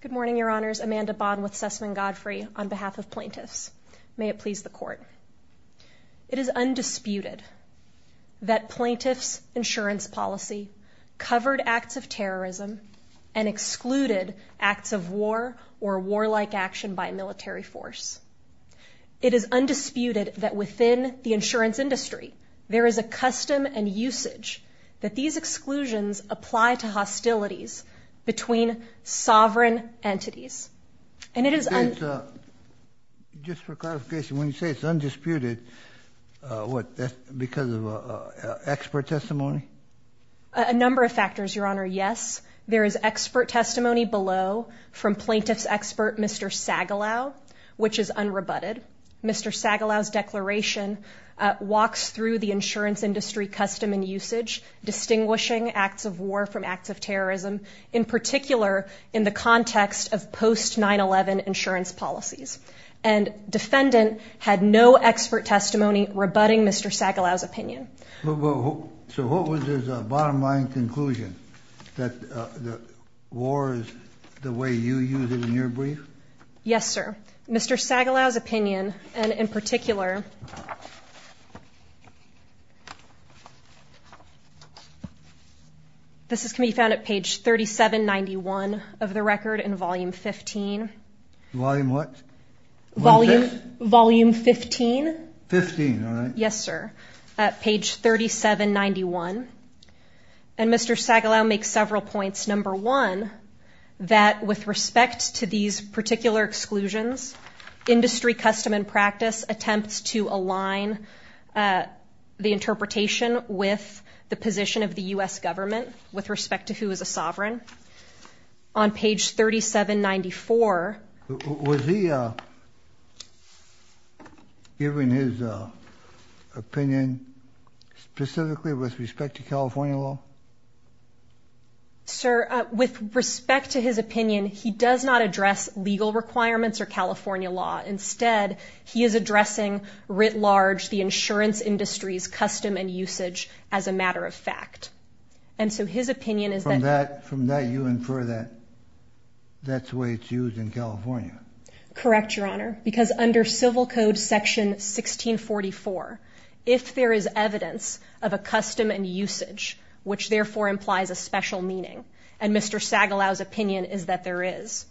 Good morning, your honors. Amanda Bond with Sussman Godfrey on behalf of plaintiffs. May it please the court. It is undisputed that plaintiffs insurance policy covered acts of terrorism and excluded acts of war or warlike action by military force. It is undisputed that within the insurance industry, there is a custom and usage that these exclusions apply to hostilities between sovereign entities. And it is just for clarification, when you say it's undisputed, what, because of expert testimony? A number of factors, your honor. Yes, there is expert testimony below from plaintiffs expert, Mr. Sagalow, which is unrebutted. Mr. Sagalow's declaration walks through the insurance industry custom and usage, distinguishing acts of war from acts of terrorism, in particular, in the context of post 9-11 insurance policies. And defendant had no expert testimony rebutting Mr. Sagalow's opinion. So what was his bottom line conclusion? That the war is the way you use it in your brief? Yes, sir. Mr. Sagalow's opinion, and in particular, this is can be found at page 3791 of the record in volume 15. Volume what? Volume 15? Yes, sir. At page 3791. And Mr. Sagalow makes several points. Number one, that with respect to these particular exclusions, industry custom and practice attempts to align the interpretation with the position of the U.S. government with respect to who is a sovereign. On page 3794. Was he giving his opinion specifically with respect to California law? Sir, with respect to his opinion, he does not address legal requirements or California law. Instead, he is addressing, writ large, the insurance industry's custom and usage as a matter of fact. And so his opinion is that from that you infer that that's the way it's used in California. Correct, Your Honor. Because under Civil Code Section 1644, if there is evidence of a custom and usage, which therefore implies a special meaning, and Mr. Sagalow's opinion is that there is,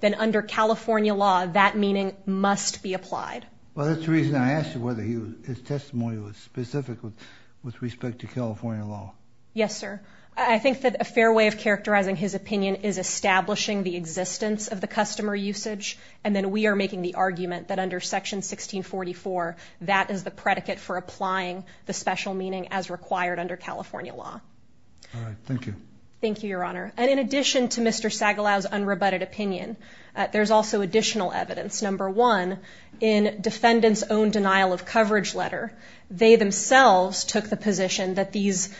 then under California law, that meaning must be applied. Well, that's the reason I asked you whether his testimony was specific with respect to California law. Yes, sir. I think that a fair way of characterizing his opinion is establishing the existence of the customer usage, and then we are making the argument that under Section 1644, that is the predicate for applying the special meaning as required under California law. All right. Thank you. Thank you, Your Honor. And in addition to Mr. Sagalow's unrebutted opinion, there's also additional evidence. Number one, in defendant's own denial of coverage letter, they themselves took the position that these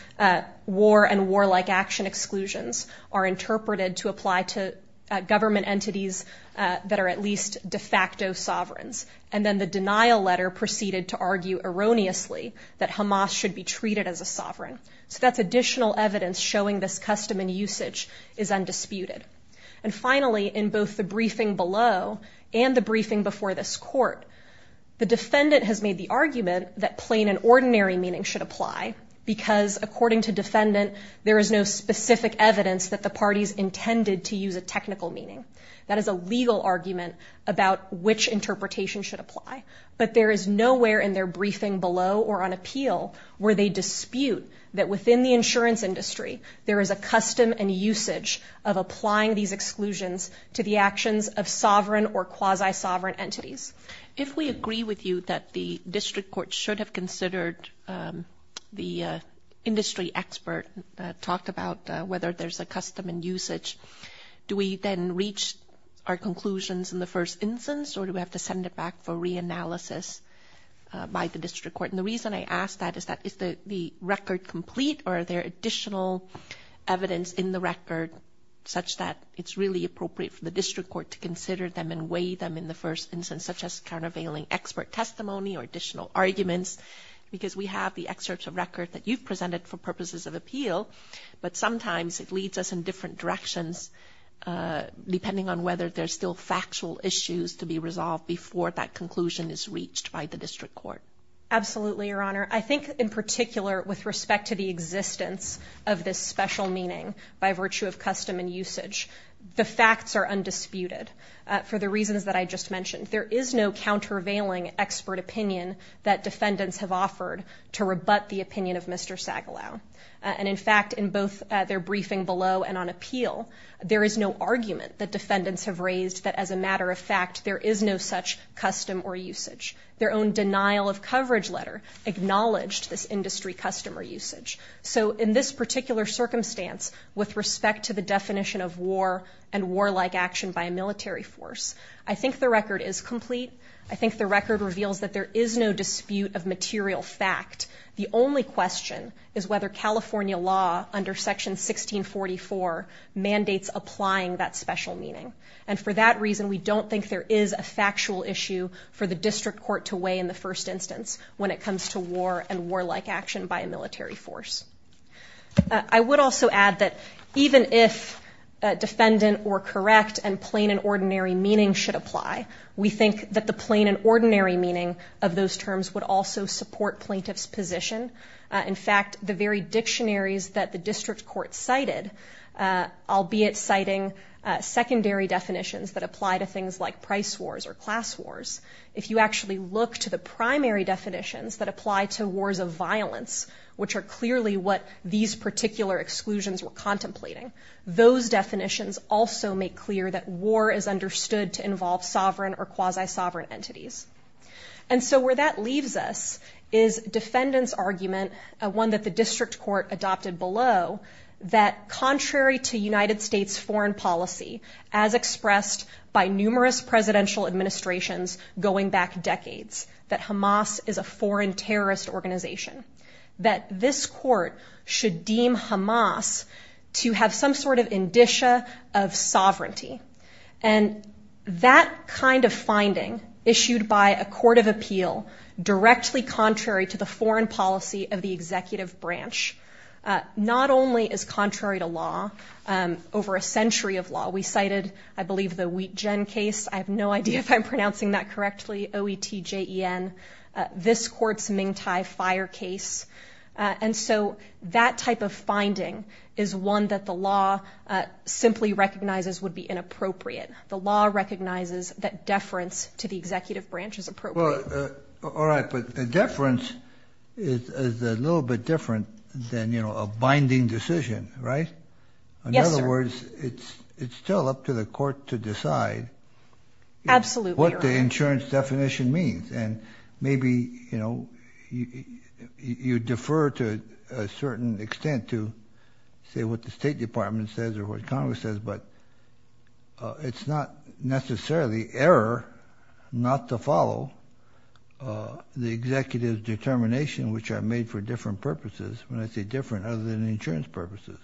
war and warlike action exclusions are interpreted to apply to government entities that are at least de facto sovereigns. And then the denial letter proceeded to argue erroneously that Hamas should be treated as a sovereign. So that's additional evidence showing this custom and usage is undisputed. And finally, in both the briefing below and the briefing before this court, the defendant has made the argument that plain and ordinary meaning should apply, because according to defendant, there is no specific evidence that the parties intended to use a technical meaning. That is a legal argument about which interpretation should apply. But there is nowhere in their briefing below or on appeal where they dispute that within the insurance industry, there is a custom and usage of applying these exclusions to the actions of sovereign or quasi-sovereign entities. If we agree with you that the district and the court should consider these exclusions in terms of custom and usage, do we then reach our conclusions in the first instance, or do we have to send it back for reanalysis by the district court? And the reason I ask that is that is the record complete, or are there additional evidence in the record such that it's really appropriate for the district court to consider them and weigh them in the first instance, such as countervailing expert testimony or additional arguments? Because we have the excerpts of record that you've presented for purposes of directions, depending on whether there's still factual issues to be resolved before that conclusion is reached by the district court. Absolutely, Your Honor. I think in particular with respect to the existence of this special meaning by virtue of custom and usage, the facts are undisputed for the reasons that I just mentioned. There is no countervailing expert opinion that defendants have offered to rebut the opinion of Mr. Sagalow. And in fact, in both their briefing below and on appeal, there is no argument that defendants have raised that as a matter of fact, there is no such custom or usage. Their own denial of coverage letter acknowledged this industry custom or usage. So in this particular circumstance with respect to the definition of war and warlike action by a military force, I think the record is complete. I think the record reveals that there is no dispute of material fact. The only question is whether California law under section 1644 mandates applying that special meaning. And for that reason, we don't think there is a factual issue for the district court to weigh in the first instance when it comes to war and warlike action by a military force. I would also add that even if defendant or correct and plain and ordinary meaning should apply, we think that the plain and ordinary meaning of those terms would also support plaintiff's position. In fact, the very dictionaries that the district court cited, albeit citing secondary definitions that apply to things like price wars or class wars, if you actually look to the primary definitions that apply to wars of violence, which are clearly what these particular exclusions were contemplating, those definitions also make clear that war is understood to involve sovereign or quasi-sovereign entities. And so where that leaves us is defendant's argument, one that the district court adopted below, that contrary to United States foreign policy, as expressed by numerous presidential administrations going back decades, that Hamas is a foreign terrorist organization, that this court should deem Hamas to have some sort of indicia of sovereignty. And that kind of finding, issued by a court of appeal directly contrary to the foreign policy of the executive branch, not only is contrary to law, over a century of law, we cited, I believe, the Wittgen case, I have no idea if I'm pronouncing that correctly, O-E-T-J-E-N, this court's Ming Thai fire case. And so that type of finding is one that the law simply recognizes would be inappropriate. The recognizes that deference to the executive branch is appropriate. Well, all right, but the deference is a little bit different than, you know, a binding decision, right? In other words, it's still up to the court to decide what the insurance definition means. And maybe, you know, you defer to a certain extent to say what the State Department says or what necessarily error not to follow the executive's determination, which are made for different purposes, when I say different other than insurance purposes.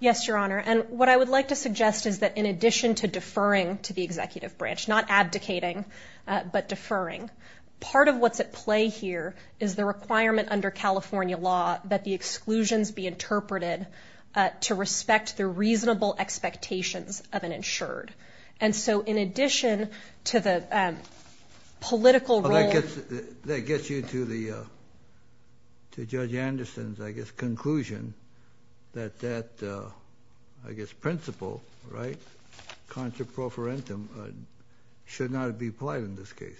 Yes, Your Honor. And what I would like to suggest is that in addition to deferring to the executive branch, not abdicating, but deferring, part of what's at play here is the requirement under California law that the exclusions be in addition to the political role... Well, that gets you to Judge Anderson's, I guess, conclusion that that, I guess, principle, right, contra pro forentum, should not be applied in this case.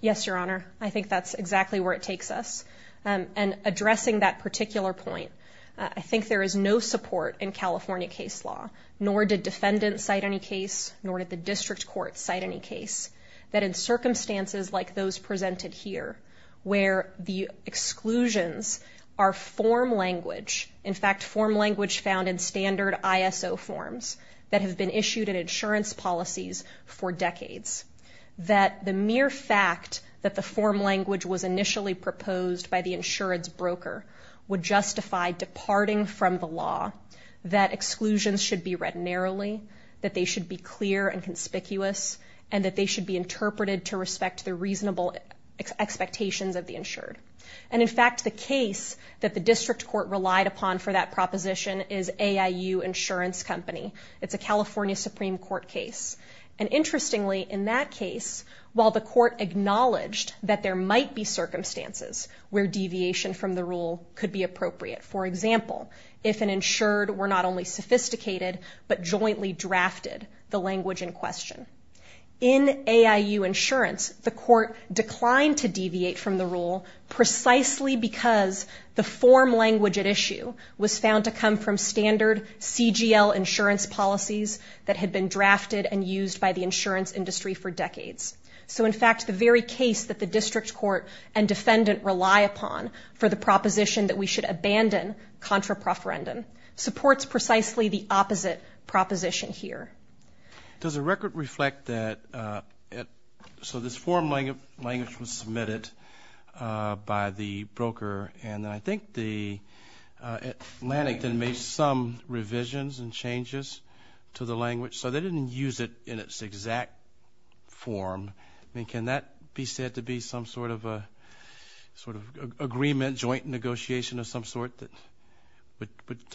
Yes, Your Honor. I think that's exactly where it takes us. And addressing that particular point, I think there is no support in California case law, nor did defendants cite any case, nor did the district court cite any case, that in circumstances like those presented here, where the exclusions are form language, in fact, form language found in standard ISO forms that have been issued in insurance policies for decades, that the mere fact that the form language was initially proposed by the insurance broker would justify departing from the law, that exclusions should be read narrowly, that they should be clear and conspicuous, and that they should be interpreted to respect the reasonable expectations of the insured. And in fact, the case that the district court relied upon for that proposition is AIU Insurance Company. It's a California Supreme Court case. And interestingly, in that case, while the court acknowledged that there might be circumstances where deviation from the rule could be appropriate, for example, if an insured were not only sophisticated, but jointly drafted the language in question. In AIU Insurance, the court declined to deviate from the rule precisely because the form language at issue was found to come from standard CGL insurance policies that had been drafted and used by the insurance industry for decades. So in fact, the very case that the contra-preferendum supports precisely the opposite proposition here. Does the record reflect that, so this form language was submitted by the broker, and then I think the Atlantic then made some revisions and changes to the language, so they didn't use it in its exact form. I mean, can that be said to be some sort of agreement, joint negotiation of some sort that would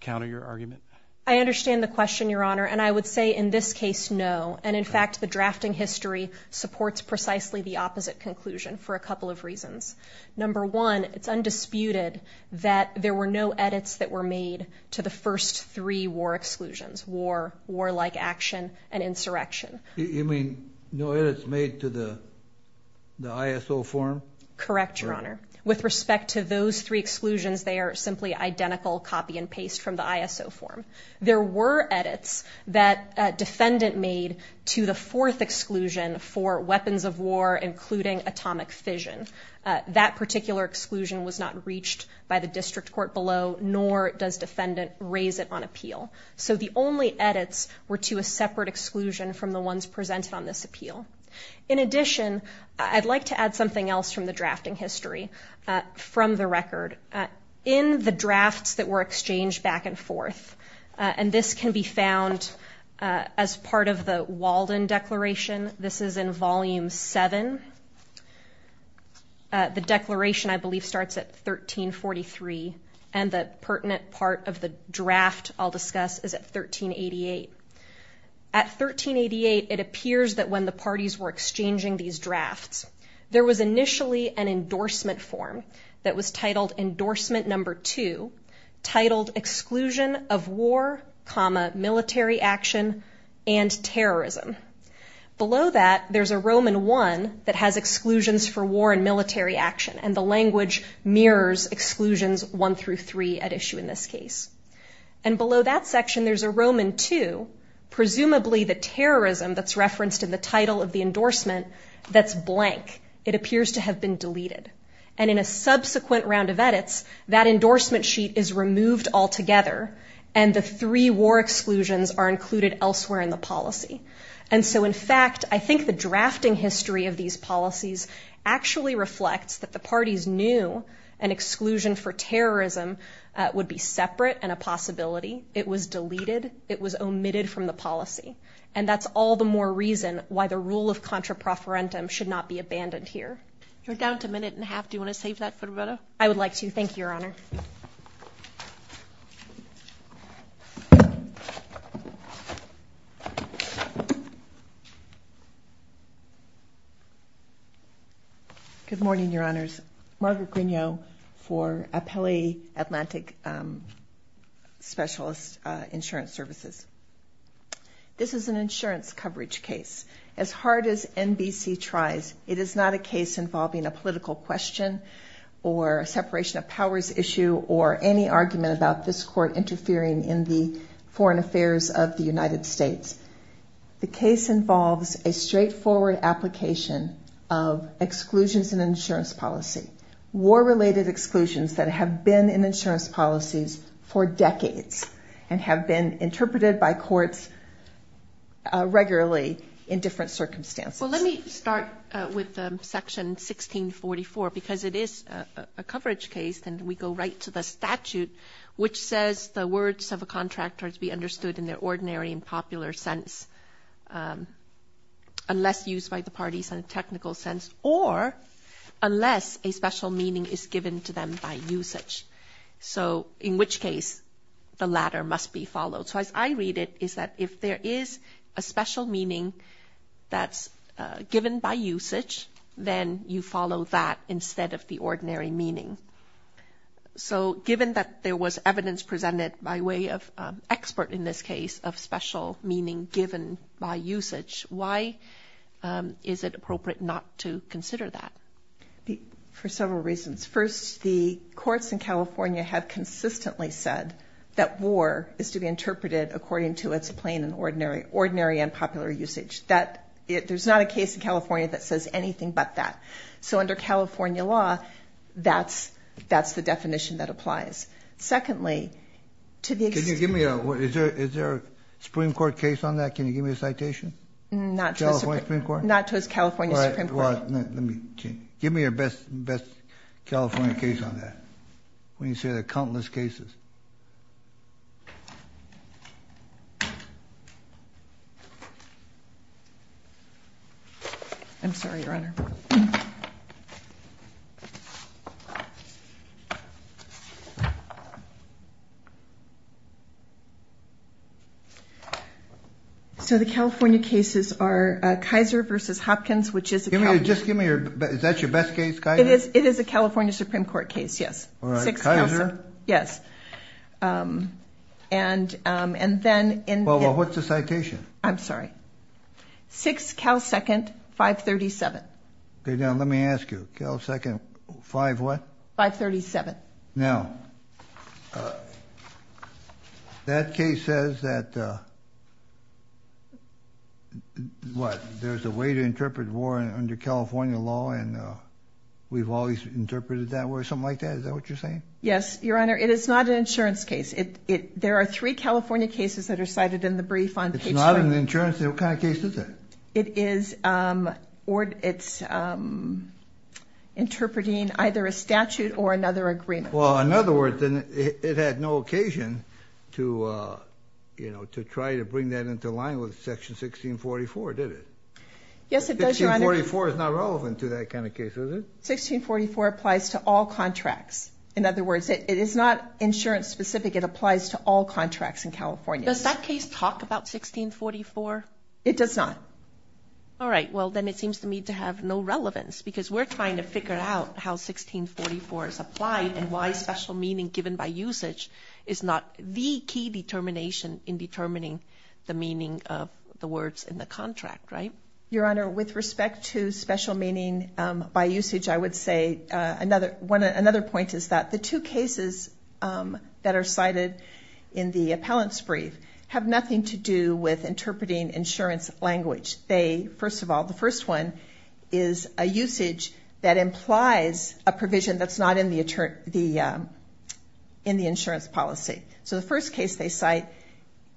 counter your argument? I understand the question, Your Honor. And I would say in this case, no. And in fact, the drafting history supports precisely the opposite conclusion for a couple of reasons. Number one, it's undisputed that there were no edits that were made to the first three war exclusions, war, war-like action, and insurrection. You mean no edits made to the ISO form? Correct, Your Honor. With respect to those three exclusions, they are simply identical copy and paste from the ISO form. There were edits that defendant made to the fourth exclusion for weapons of war, including atomic fission. That particular exclusion was not reached by the district court below, nor does defendant raise it on appeal. So the only edits were to a separate exclusion from the ones presented on this appeal. In addition, I'd like to add something else from the drafting history from the record. In the drafts that were exchanged back and forth, and this can be found as part of the Walden Declaration. This is in Volume 7. The declaration, I believe, starts at 1343, and the pertinent part of the draft I'll discuss is at 1388. At 1388, it appears that when the parties were exchanging these drafts, there was initially an endorsement form that was titled Endorsement Number 2, titled Exclusion of War, Military Action, and Terrorism. Below that, there's a Roman 1 that has exclusions for war and military action, and the language mirrors exclusions 1 through 3 at issue in this case. And below that section, there's a Roman 2, presumably the terrorism that's referenced in the title of the endorsement, that's blank. It appears to have been deleted. And in a subsequent round of edits, that endorsement sheet is removed altogether, and the three war exclusions are included elsewhere in the policy. And so in fact, I think the drafting history of these policies actually reflects that the parties knew an exclusion for terrorism would be separate and a possibility. It was deleted. It was omitted from the policy. And that's all the more reason why the rule of contra proferentum should not be abandoned here. You're down to a minute and a half. Do you want to save that for Roberto? I would like to. Thank you, Your Honor. Good morning, Your Honors. Margaret Grignot for Appellee Atlantic Specialist Insurance Services. This is an insurance coverage case. As hard as NBC tries, it is not a case involving a political question or a separation of powers issue or any argument about this court interfering in the foreign affairs of the United States. The case involves a straightforward application of exclusions in insurance policy, war-related exclusions that have been in insurance policies for decades and have been interpreted by courts regularly in different circumstances. Let me start with Section 1644, because it is a coverage case, and we go right to the statute which says the words of a contract are to be understood in their ordinary and popular sense, unless used by the parties in a technical sense or unless a special meaning is given to them by usage. So in which case the latter must be followed. So as I read it, is that if there is a special meaning that's given by usage, then you follow that instead of the ordinary meaning. So given that there was evidence presented by way of expert in this case of special meaning given by usage, why is it appropriate not to consider that? For several reasons. First, the courts in California have consistently said that war is to be interpreted according to its ordinary and popular usage. There's not a case in California that says anything but that. So under California law, that's the definition that applies. Secondly, to the extent... Can you give me a... Is there a Supreme Court case on that? Can you give me a citation? Not to a Supreme Court? Not to a California Supreme Court. Give me your best California case on that. When you say there are countless cases. I'm sorry, Your Honor. So the California cases are Kaiser versus Hopkins, which is a... Just give me your... Is that your best case, Kaiser? It is a California Supreme Court case, yes. All right, Kaiser? Yes. And then in... Well, what's the citation? I'm sorry. 6 Cal 2nd, 537. Okay, now let me ask you. Cal 2nd, 5 what? 537. Now, that case says that... What? There's a way to interpret war under California law and we've always interpreted that way or something like that? Is that what you're saying? Yes, Your Honor. It is not an insurance case. There are three California cases that are cited in the brief on page... It's not an insurance case? What kind of case is that? It is interpreting either a statute or another agreement. Well, in other words, it had no occasion to try to bring that into line with Section 1644, did it? Yes, it does, Your Honor. 1644 is not relevant to that kind of case, is it? 1644 applies to all contracts. In other words, it is not insurance specific. It applies to all contracts in California. Does that case talk about 1644? It does not. All right. Well, then it seems to me to have no relevance because we're trying to figure out how 1644 is applied and why special meaning given by usage is not the key determination in determining the meaning of the words in the contract, right? Your Honor, with respect to special meaning by usage, I would say another point is that the two cases that are cited in the appellant's brief have nothing to do with interpreting insurance language. They, first of all, the first one is a usage that implies a provision that's not in the insurance policy. So the first case they cite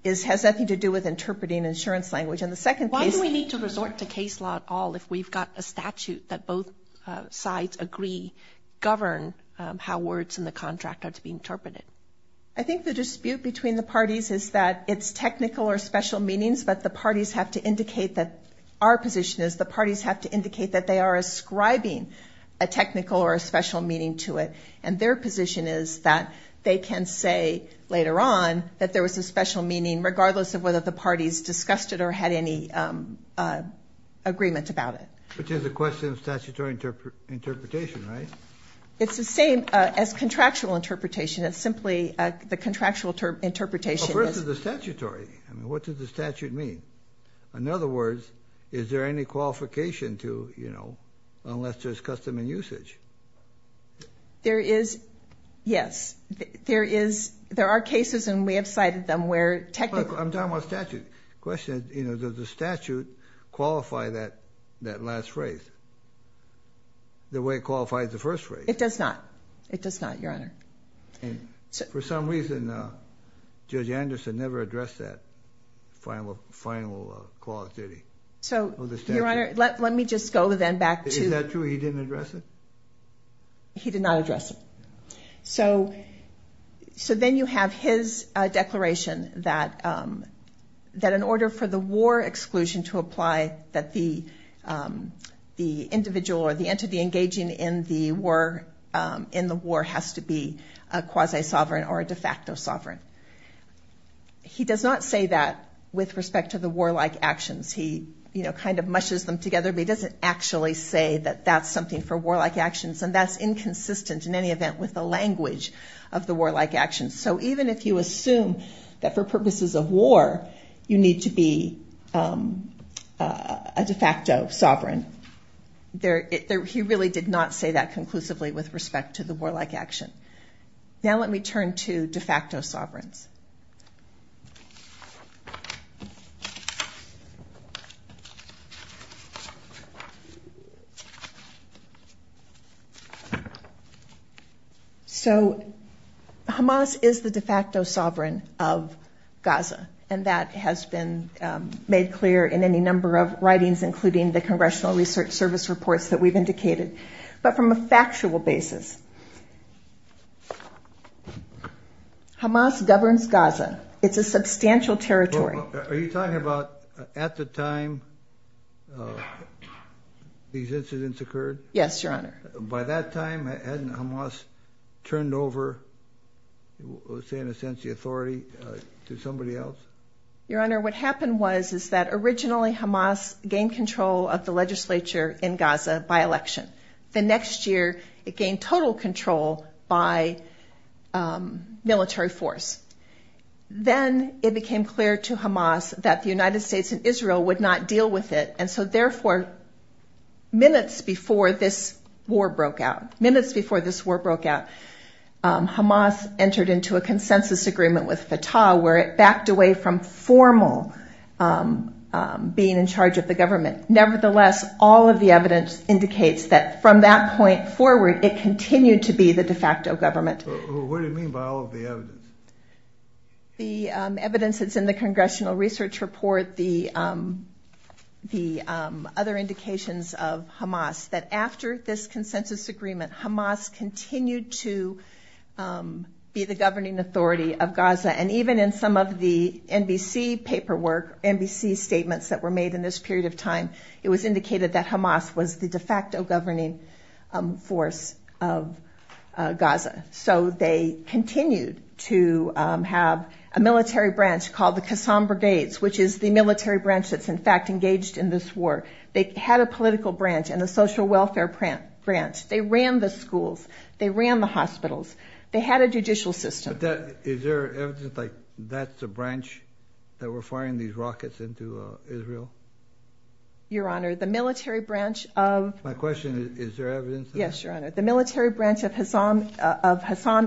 has nothing to do with interpreting insurance language. And the second case... Why do we need to resort to case law at all if we've got a statute that both sides agree govern how words in the contract are to be interpreted? I think the dispute between the parties is that it's technical or special meanings, but the parties have to indicate that our position is the parties have to indicate that they are ascribing a technical or a special meaning to it. And their position is that they can say later on that there was a special meaning regardless of whether the parties discussed it or had any agreement about it. Which is a question of statutory interpretation, right? It's the same as contractual interpretation. It's simply the contractual interpretation... But where's the statutory? I mean, what does the statute mean? In other words, is there any qualification to, you know, unless there's custom and usage? There is, yes. There are cases and we have cited them where technically... I'm talking about statute. The question is, you know, does the statute qualify that last phrase the way it qualifies the first phrase? It does not. It does not, Your Honor. For some reason, Judge Anderson never addressed that final clause, did he? So, Your Honor, let me just go then back to... Is that true? He didn't address it? He did not address it. So then you have his declaration that in order for the war exclusion to apply, that the individual or the entity engaging in the war has to be a quasi-sovereign or a de facto sovereign. He does not say that with respect to the warlike actions. He, you know, kind of and that's inconsistent in any event with the language of the warlike actions. So even if you assume that for purposes of war, you need to be a de facto sovereign, he really did not say that conclusively with respect to the warlike action. Now let me turn to de facto sovereigns. So Hamas is the de facto sovereign of Gaza, and that has been made clear in any number of writings, including the Congressional Research Service reports that we've indicated. But from a factual basis, Hamas governs Gaza. It's a substantial territory. Are you talking about at the time these incidents occurred? Yes, Your Honor. By that time, hadn't Hamas turned over, say in a sense, the authority to somebody else? Your Honor, what happened was, is that originally Hamas gained control of the legislature in Gaza by election. The next year, it gained total control by military force. Then it became clear to Hamas that the United States and Israel would not deal with it. And so therefore, minutes before this war broke out, minutes before this war broke out, Hamas entered into a consensus agreement with Fatah where it backed away from formal being in charge of the government. Nevertheless, all of the evidence indicates that from that point forward, it continued to be the de facto government. What do you mean by all of the evidence? The evidence that's in the Congressional Research Report, the other indications of Hamas, that after this consensus agreement, Hamas continued to be the governing authority of Gaza. And even in some of the NBC paperwork, NBC statements that were made in this period of time, it was indicated that Hamas was the de facto governing force of Gaza. So they continued to have a military branch called the Kassam Brigades, which is the military branch that's in fact engaged in this war. They had a political branch and a social welfare branch. They ran the schools. They ran the hospitals. They had a judicial system. Is there evidence that that's the branch that were firing these rockets into Israel? Your Honor, the military branch of... My question is, is there evidence? Yes, Your Honor. The military branch of Hassam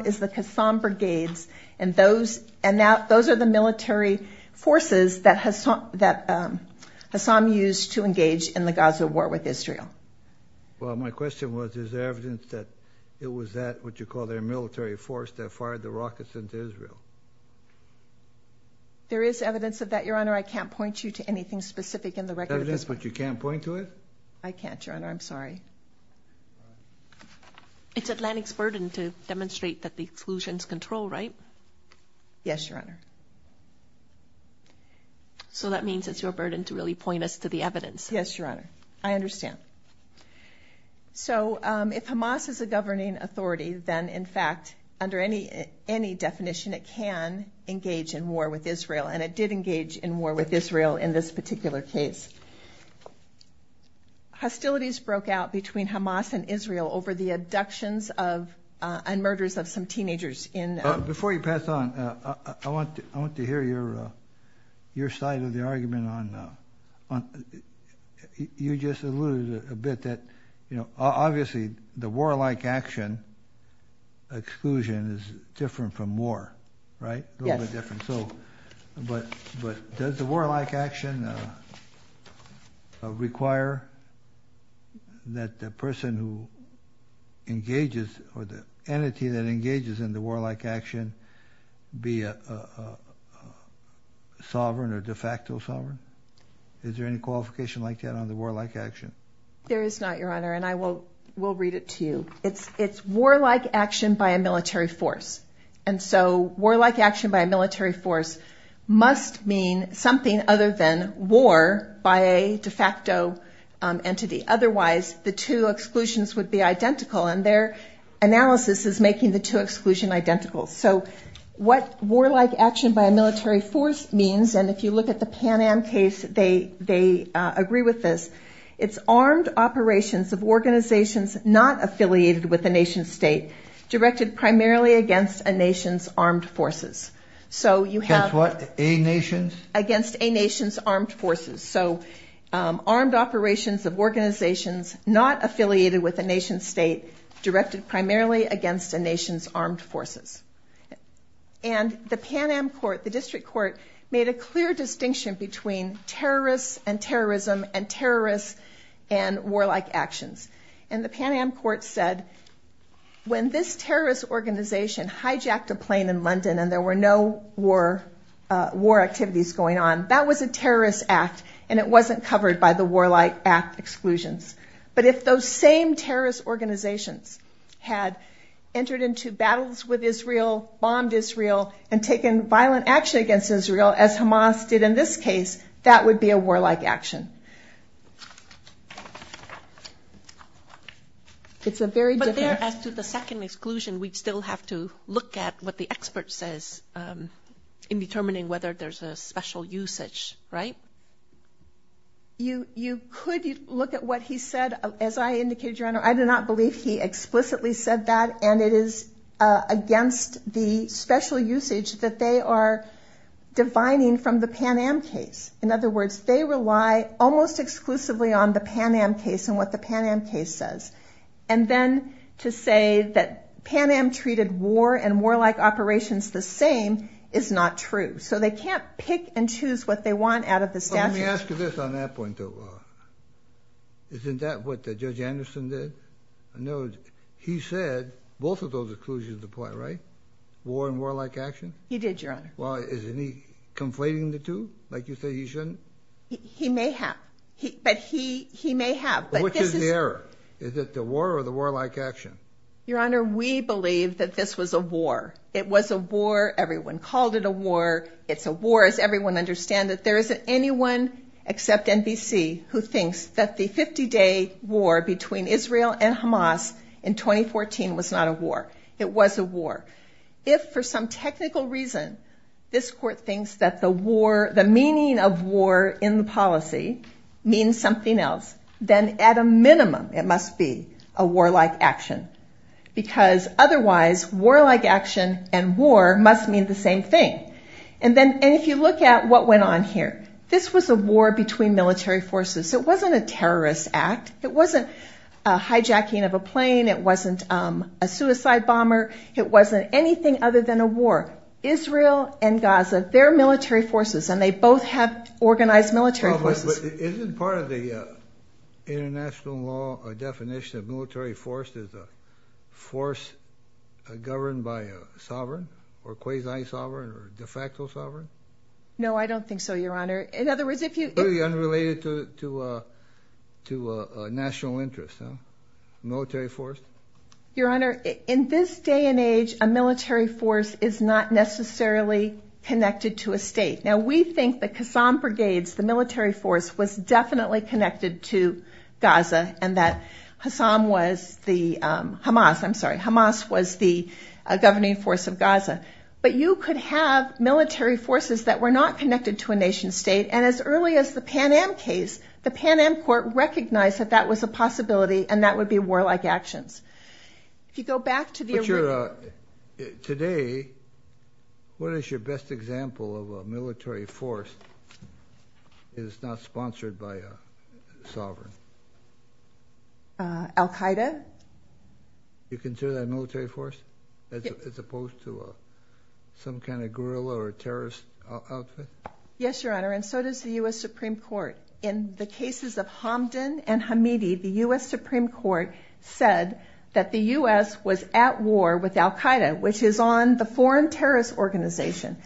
is the Kassam Brigades. And those are the military forces that Hassam used to engage in the Gaza war with Israel. Well, my question was, is there evidence that it was that what you call their military force that fired the rockets into Israel? There is evidence of that, Your Honor. I can't point you to anything specific in the record. There's evidence, but you can't point to it? I can't, Your Honor. I'm sorry. It's Atlantic's burden to demonstrate that the exclusions control, right? Yes, Your Honor. So that means it's your burden to really point us to the evidence. Yes, Your Honor. I understand. So if Hamas is a governing authority, then in fact, under any definition, it can engage in war with Israel. And it did engage in war with Israel in this particular case. Hostilities broke out between Hamas and Israel over the abductions and murders of some teenagers in... Before you pass on, I want to hear your side of the argument on... You just alluded a bit that, you know, obviously the war-like action exclusion is different from war, right? Yes. A little bit different. So, but does the war-like action require that the person who engages or the entity that engages in the war-like action be a sovereign or de facto sovereign? Is there any qualification like that on the war-like action? There is not, Your Honor. And I will read it to you. It's war-like action by a military force. And so war-like action by a military force must mean something other than war by a de facto entity. Otherwise, the two exclusions would be identical and their what war-like action by a military force means. And if you look at the Pan Am case, they agree with this. It's armed operations of organizations not affiliated with a nation state directed primarily against a nation's armed forces. So you have... Against what? A nation's? Against a nation's armed forces. So armed operations of organizations not affiliated with a nation state directed primarily against a nation's armed forces. And the Pan Am court, the district court, made a clear distinction between terrorists and terrorism and terrorists and war-like actions. And the Pan Am court said, when this terrorist organization hijacked a plane in London and there were no war activities going on, that was a terrorist act and it wasn't covered by the war-like act exclusions. But if those same terrorist organizations had entered into battles with Israel, bombed Israel, and taken violent action against Israel as Hamas did in this case, that would be a war-like action. It's a very different... But there, as to the second exclusion, we'd still have to look at what the expert says in determining whether there's a special usage, right? So you could look at what he said. As I indicated, Your Honor, I do not believe he explicitly said that. And it is against the special usage that they are divining from the Pan Am case. In other words, they rely almost exclusively on the Pan Am case and what the Pan Am case says. And then to say that Pan Am treated war and war-like operations the same is not true. So they can't pick and choose what they want out of the statute. Let me ask you this on that point, though. Isn't that what Judge Anderson did? No, he said both of those exclusions apply, right? War and war-like action? He did, Your Honor. Well, isn't he conflating the two? Like you said, he shouldn't? He may have. But he may have. But which is the error? Is it the war or the war-like action? Your Honor, we believe that this was a war. It was a war. Everyone called it a war. It's a war, as everyone understands it. There isn't anyone except NBC who thinks that the 50-day war between Israel and Hamas in 2014 was not a war. It was a war. If, for some technical reason, this Court thinks that the meaning of war in the policy means something else, then at a minimum, it must be a war-like action. Because otherwise, war-like action and war must mean the same thing. And if you look at what went on here, this was a war between military forces. It wasn't a terrorist act. It wasn't a hijacking of a plane. It wasn't a suicide bomber. It wasn't anything other than a war. Israel and Gaza, they're military forces, and they both have organized military forces. Isn't part of the international law a definition of military force as a force governed by a sovereign, or quasi-sovereign, or de facto sovereign? No, I don't think so, Your Honor. In other words, if you... Really unrelated to national interests, huh? Military force? Your Honor, in this day and age, a military force is not necessarily connected to a state. Now, we think that Kassam Brigades, the military force, was definitely connected to Gaza, and that Hamas was the governing force of Gaza. But you could have military forces that were not connected to a nation-state, and as early as the Pan Am case, the Pan Am Court recognized that that was a possibility, and that would be war-like actions. If you go back to the... Today, what is your best example of a military force that is not sponsored by a sovereign? Al Qaeda? You consider that a military force, as opposed to some kind of guerrilla or terrorist outfit? Yes, Your Honor, and so does the U.S. Supreme Court. In the cases of Hamdan and Hamidi, the U.S. Supreme Court said that the U.S. was at war with Al Qaeda, which is on the foreign terrorist organization.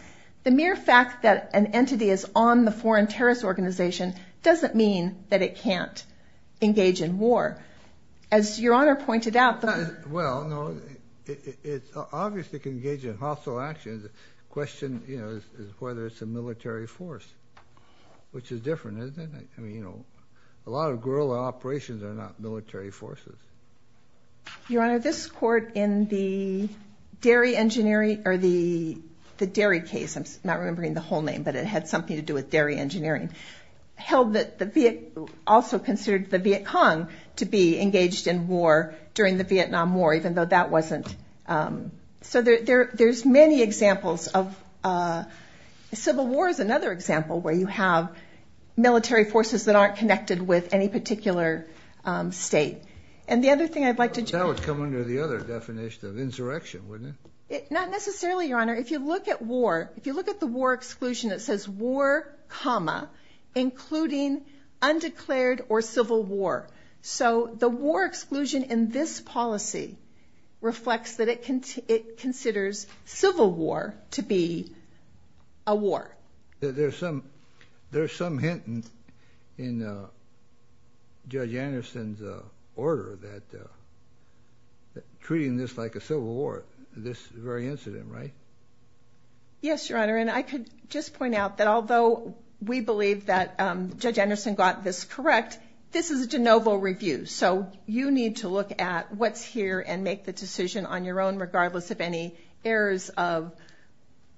The mere fact that an entity is on the foreign terrorist organization doesn't mean that it can't engage in war. As Your Honor pointed out... Well, no, it obviously can engage in hostile actions. The question is whether it's a military force, which is different, isn't it? I mean, you know, a lot of guerrilla operations are not military forces. Your Honor, this Court in the Dairy Engineering, or the Dairy case, I'm not remembering the whole name, but it had something to do with dairy engineering, held that the... also considered the Viet Cong to be engaged in war during the Vietnam War, even though that wasn't... So there's many examples of... Civil War is another example where you have military forces that aren't connected with any particular state. And the other thing I'd like to... That would come under the other definition of insurrection, wouldn't it? Not necessarily, Your Honor. If you look at war, if you look at the war exclusion, it says war, comma, including undeclared or civil war. So the war exclusion in this policy reflects that it considers civil war to be a war. There's some hint in Judge Anderson's order that treating this like a civil war, this very incident, right? Yes, Your Honor. And I could just point out that although we believe that Judge Anderson got this on your own, regardless of any errors of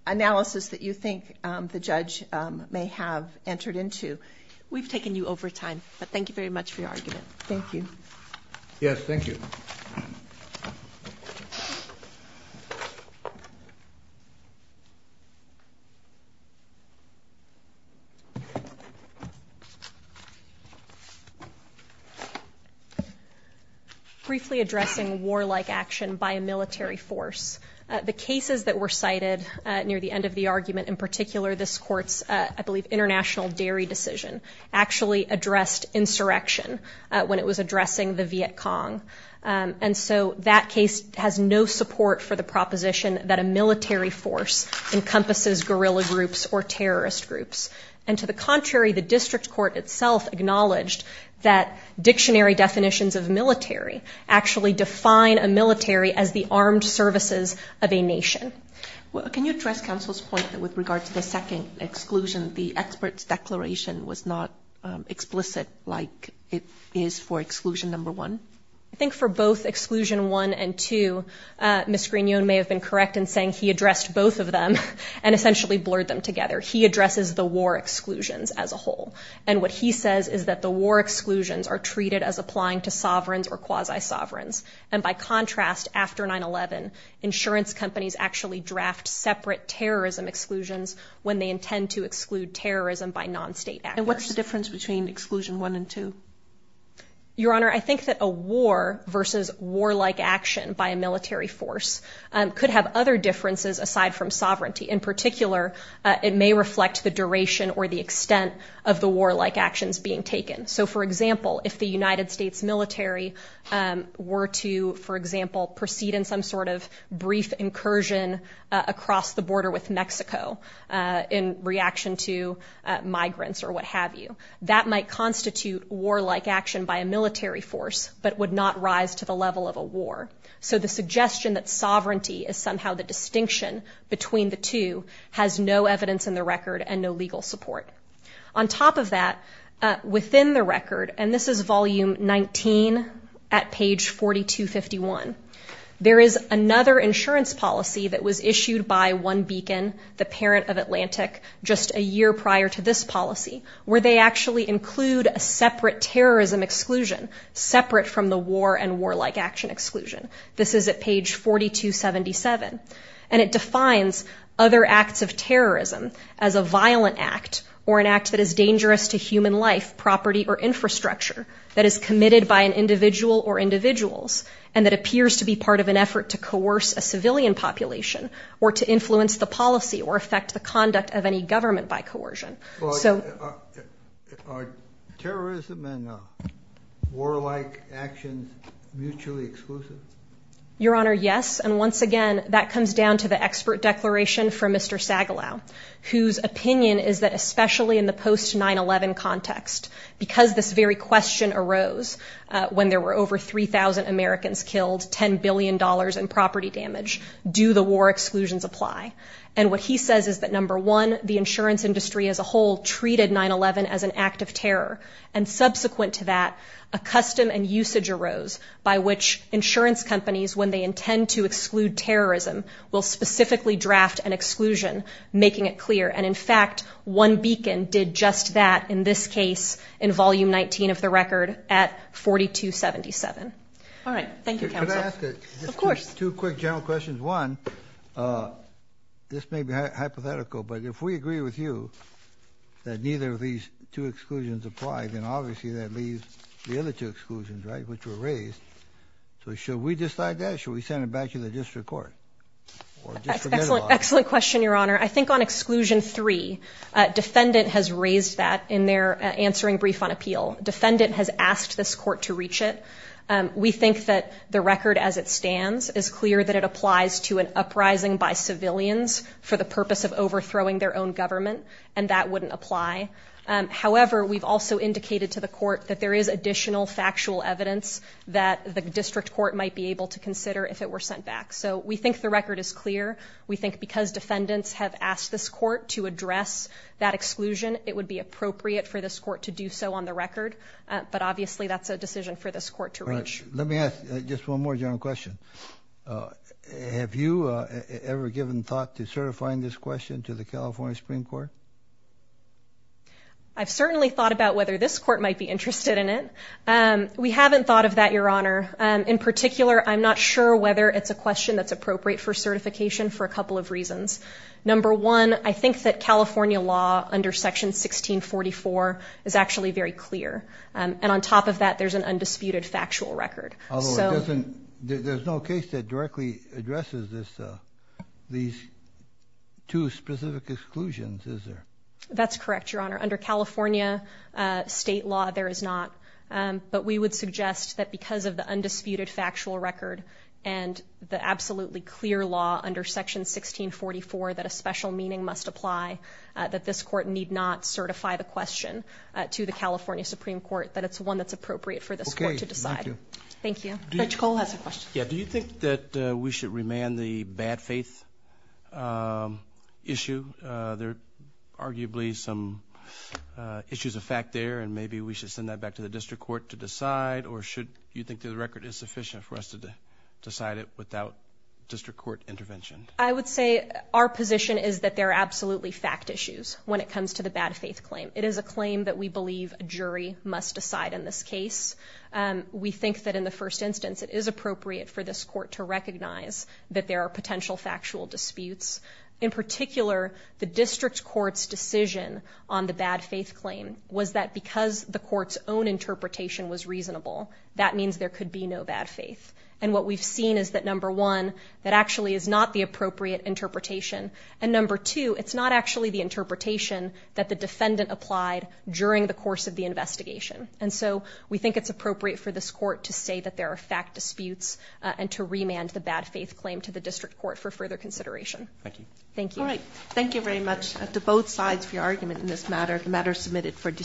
analysis that you think the judge may have entered into, we've taken you over time. But thank you very much for your argument. Thank you. Yes, thank you. So briefly addressing war-like action by a military force. The cases that were cited near the end of the argument, in particular, this court's, I believe, international dairy decision, actually addressed insurrection when it was addressing the Viet Cong. And so that case has no support for the proposition that a military force encompasses guerrilla groups or terrorist groups. And to the contrary, the district court itself acknowledged that dictionary definitions of military actually define a military as the armed services of a nation. Can you address counsel's point that with regard to the second exclusion, the expert's declaration was not explicit like it is for exclusion number one? I think for both exclusion one and two, Ms. Grignon may have been correct in saying he addressed both of them and essentially blurred them together. He addresses the war exclusions as a whole. And what he says is that the war exclusions are treated as applying to sovereigns or quasi-sovereigns. And by contrast, after 9-11, insurance companies actually draft separate terrorism exclusions when they intend to exclude terrorism by non-state actors. And what's the difference between exclusion one and two? Your Honor, I think that a war versus war-like action by a military force could have other differences aside from sovereignty. In particular, it may reflect the duration or the extent of the war-like actions being taken. So, for example, if the United States military were to, for example, proceed in some sort of brief incursion across the border with Mexico in reaction to war-like action by a military force but would not rise to the level of a war. So the suggestion that sovereignty is somehow the distinction between the two has no evidence in the record and no legal support. On top of that, within the record, and this is volume 19 at page 4251, there is another insurance policy that was issued by one beacon, the parent of Atlantic, just a year prior to this policy, where they actually include a separate terrorism exclusion separate from the war and war-like action exclusion. This is at page 4277. And it defines other acts of terrorism as a violent act or an act that is dangerous to human life, property, or infrastructure that is committed by an individual or individuals and that appears to be part of an effort to coerce a civilian population or to influence the policy or affect the conduct of any government by coercion. Are terrorism and war-like actions mutually exclusive? Your Honor, yes. And once again, that comes down to the expert declaration from Mr. Sagalow, whose opinion is that especially in the post-911 context, because this very question arose when there were over 3,000 Americans killed, $10 billion in property damage, do the war exclusions apply? And what he says is that, number one, the insurance industry as a whole treated 9-11 as an act of terror. And subsequent to that, a custom and usage arose by which insurance companies, when they intend to exclude terrorism, will specifically draft an exclusion, making it clear. And in fact, one beacon did just that in this case in volume 19 of the record at 4277. All right. Thank you, counsel. Of course. Two quick general questions. One, this may be hypothetical, but if we agree with you that neither of these two exclusions apply, then obviously that leaves the other two exclusions, right, which were raised. So should we decide that? Should we send it back to the district court? Excellent question, Your Honor. I think on exclusion three, defendant has raised that in their answering brief on appeal. Defendant has asked this court to reach it. We think that the record as it stands is clear that it applies to an uprising by civilians for the purpose of overthrowing their own government, and that wouldn't apply. However, we've also indicated to the court that there is additional factual evidence that the district court might be able to consider if it were sent back. So we think the record is clear. We think because defendants have asked this court to address that exclusion, it would be appropriate for this court to do so on the record. But obviously that's a decision for this court to reach. Let me ask just one more general question. Have you ever given thought to certifying this question to the California Supreme Court? I've certainly thought about whether this court might be interested in it. We haven't thought of that, Your Honor. In particular, I'm not sure whether it's a question that's appropriate for certification for a couple of reasons. Number one, I think that California law under Section 1644 is actually very clear. And on top of that, there's an undisputed factual record. There's no case that directly addresses these two specific exclusions, is there? That's correct, Your Honor. Under California state law, there is not. But we would suggest that because of the undisputed factual record and the absolutely clear law under Section 1644 that a special meaning must apply, that this court need not certify the question to the California Supreme Court, that it's one that's appropriate for this court to decide. Thank you. Judge Cole has a question. Do you think that we should remand the bad faith issue? There are arguably some issues of fact there, and maybe we should send that back to the district court to decide. Or should you think the record is sufficient for us to decide it without district court intervention? I would say our position is that there are absolutely fact issues when it comes to the bad faith claim. It is a claim that we believe a jury must decide in this case. We think that in the first instance, it is appropriate for this court to recognize that there are potential factual disputes. In particular, the district court's decision on the bad faith claim was that because the court's own interpretation was reasonable, that means there could be no bad faith. And what we've seen is that number one, that actually is not the appropriate interpretation. And number two, it's not actually the interpretation that the defendant applied during the course of the investigation. And so we think it's appropriate for this court to say that there are fact disputes and to remand the bad faith claim to the district court for further consideration. Thank you. Thank you. All right. Thank you very much to both sides for your argument in this matter. The matter submitted for discussion.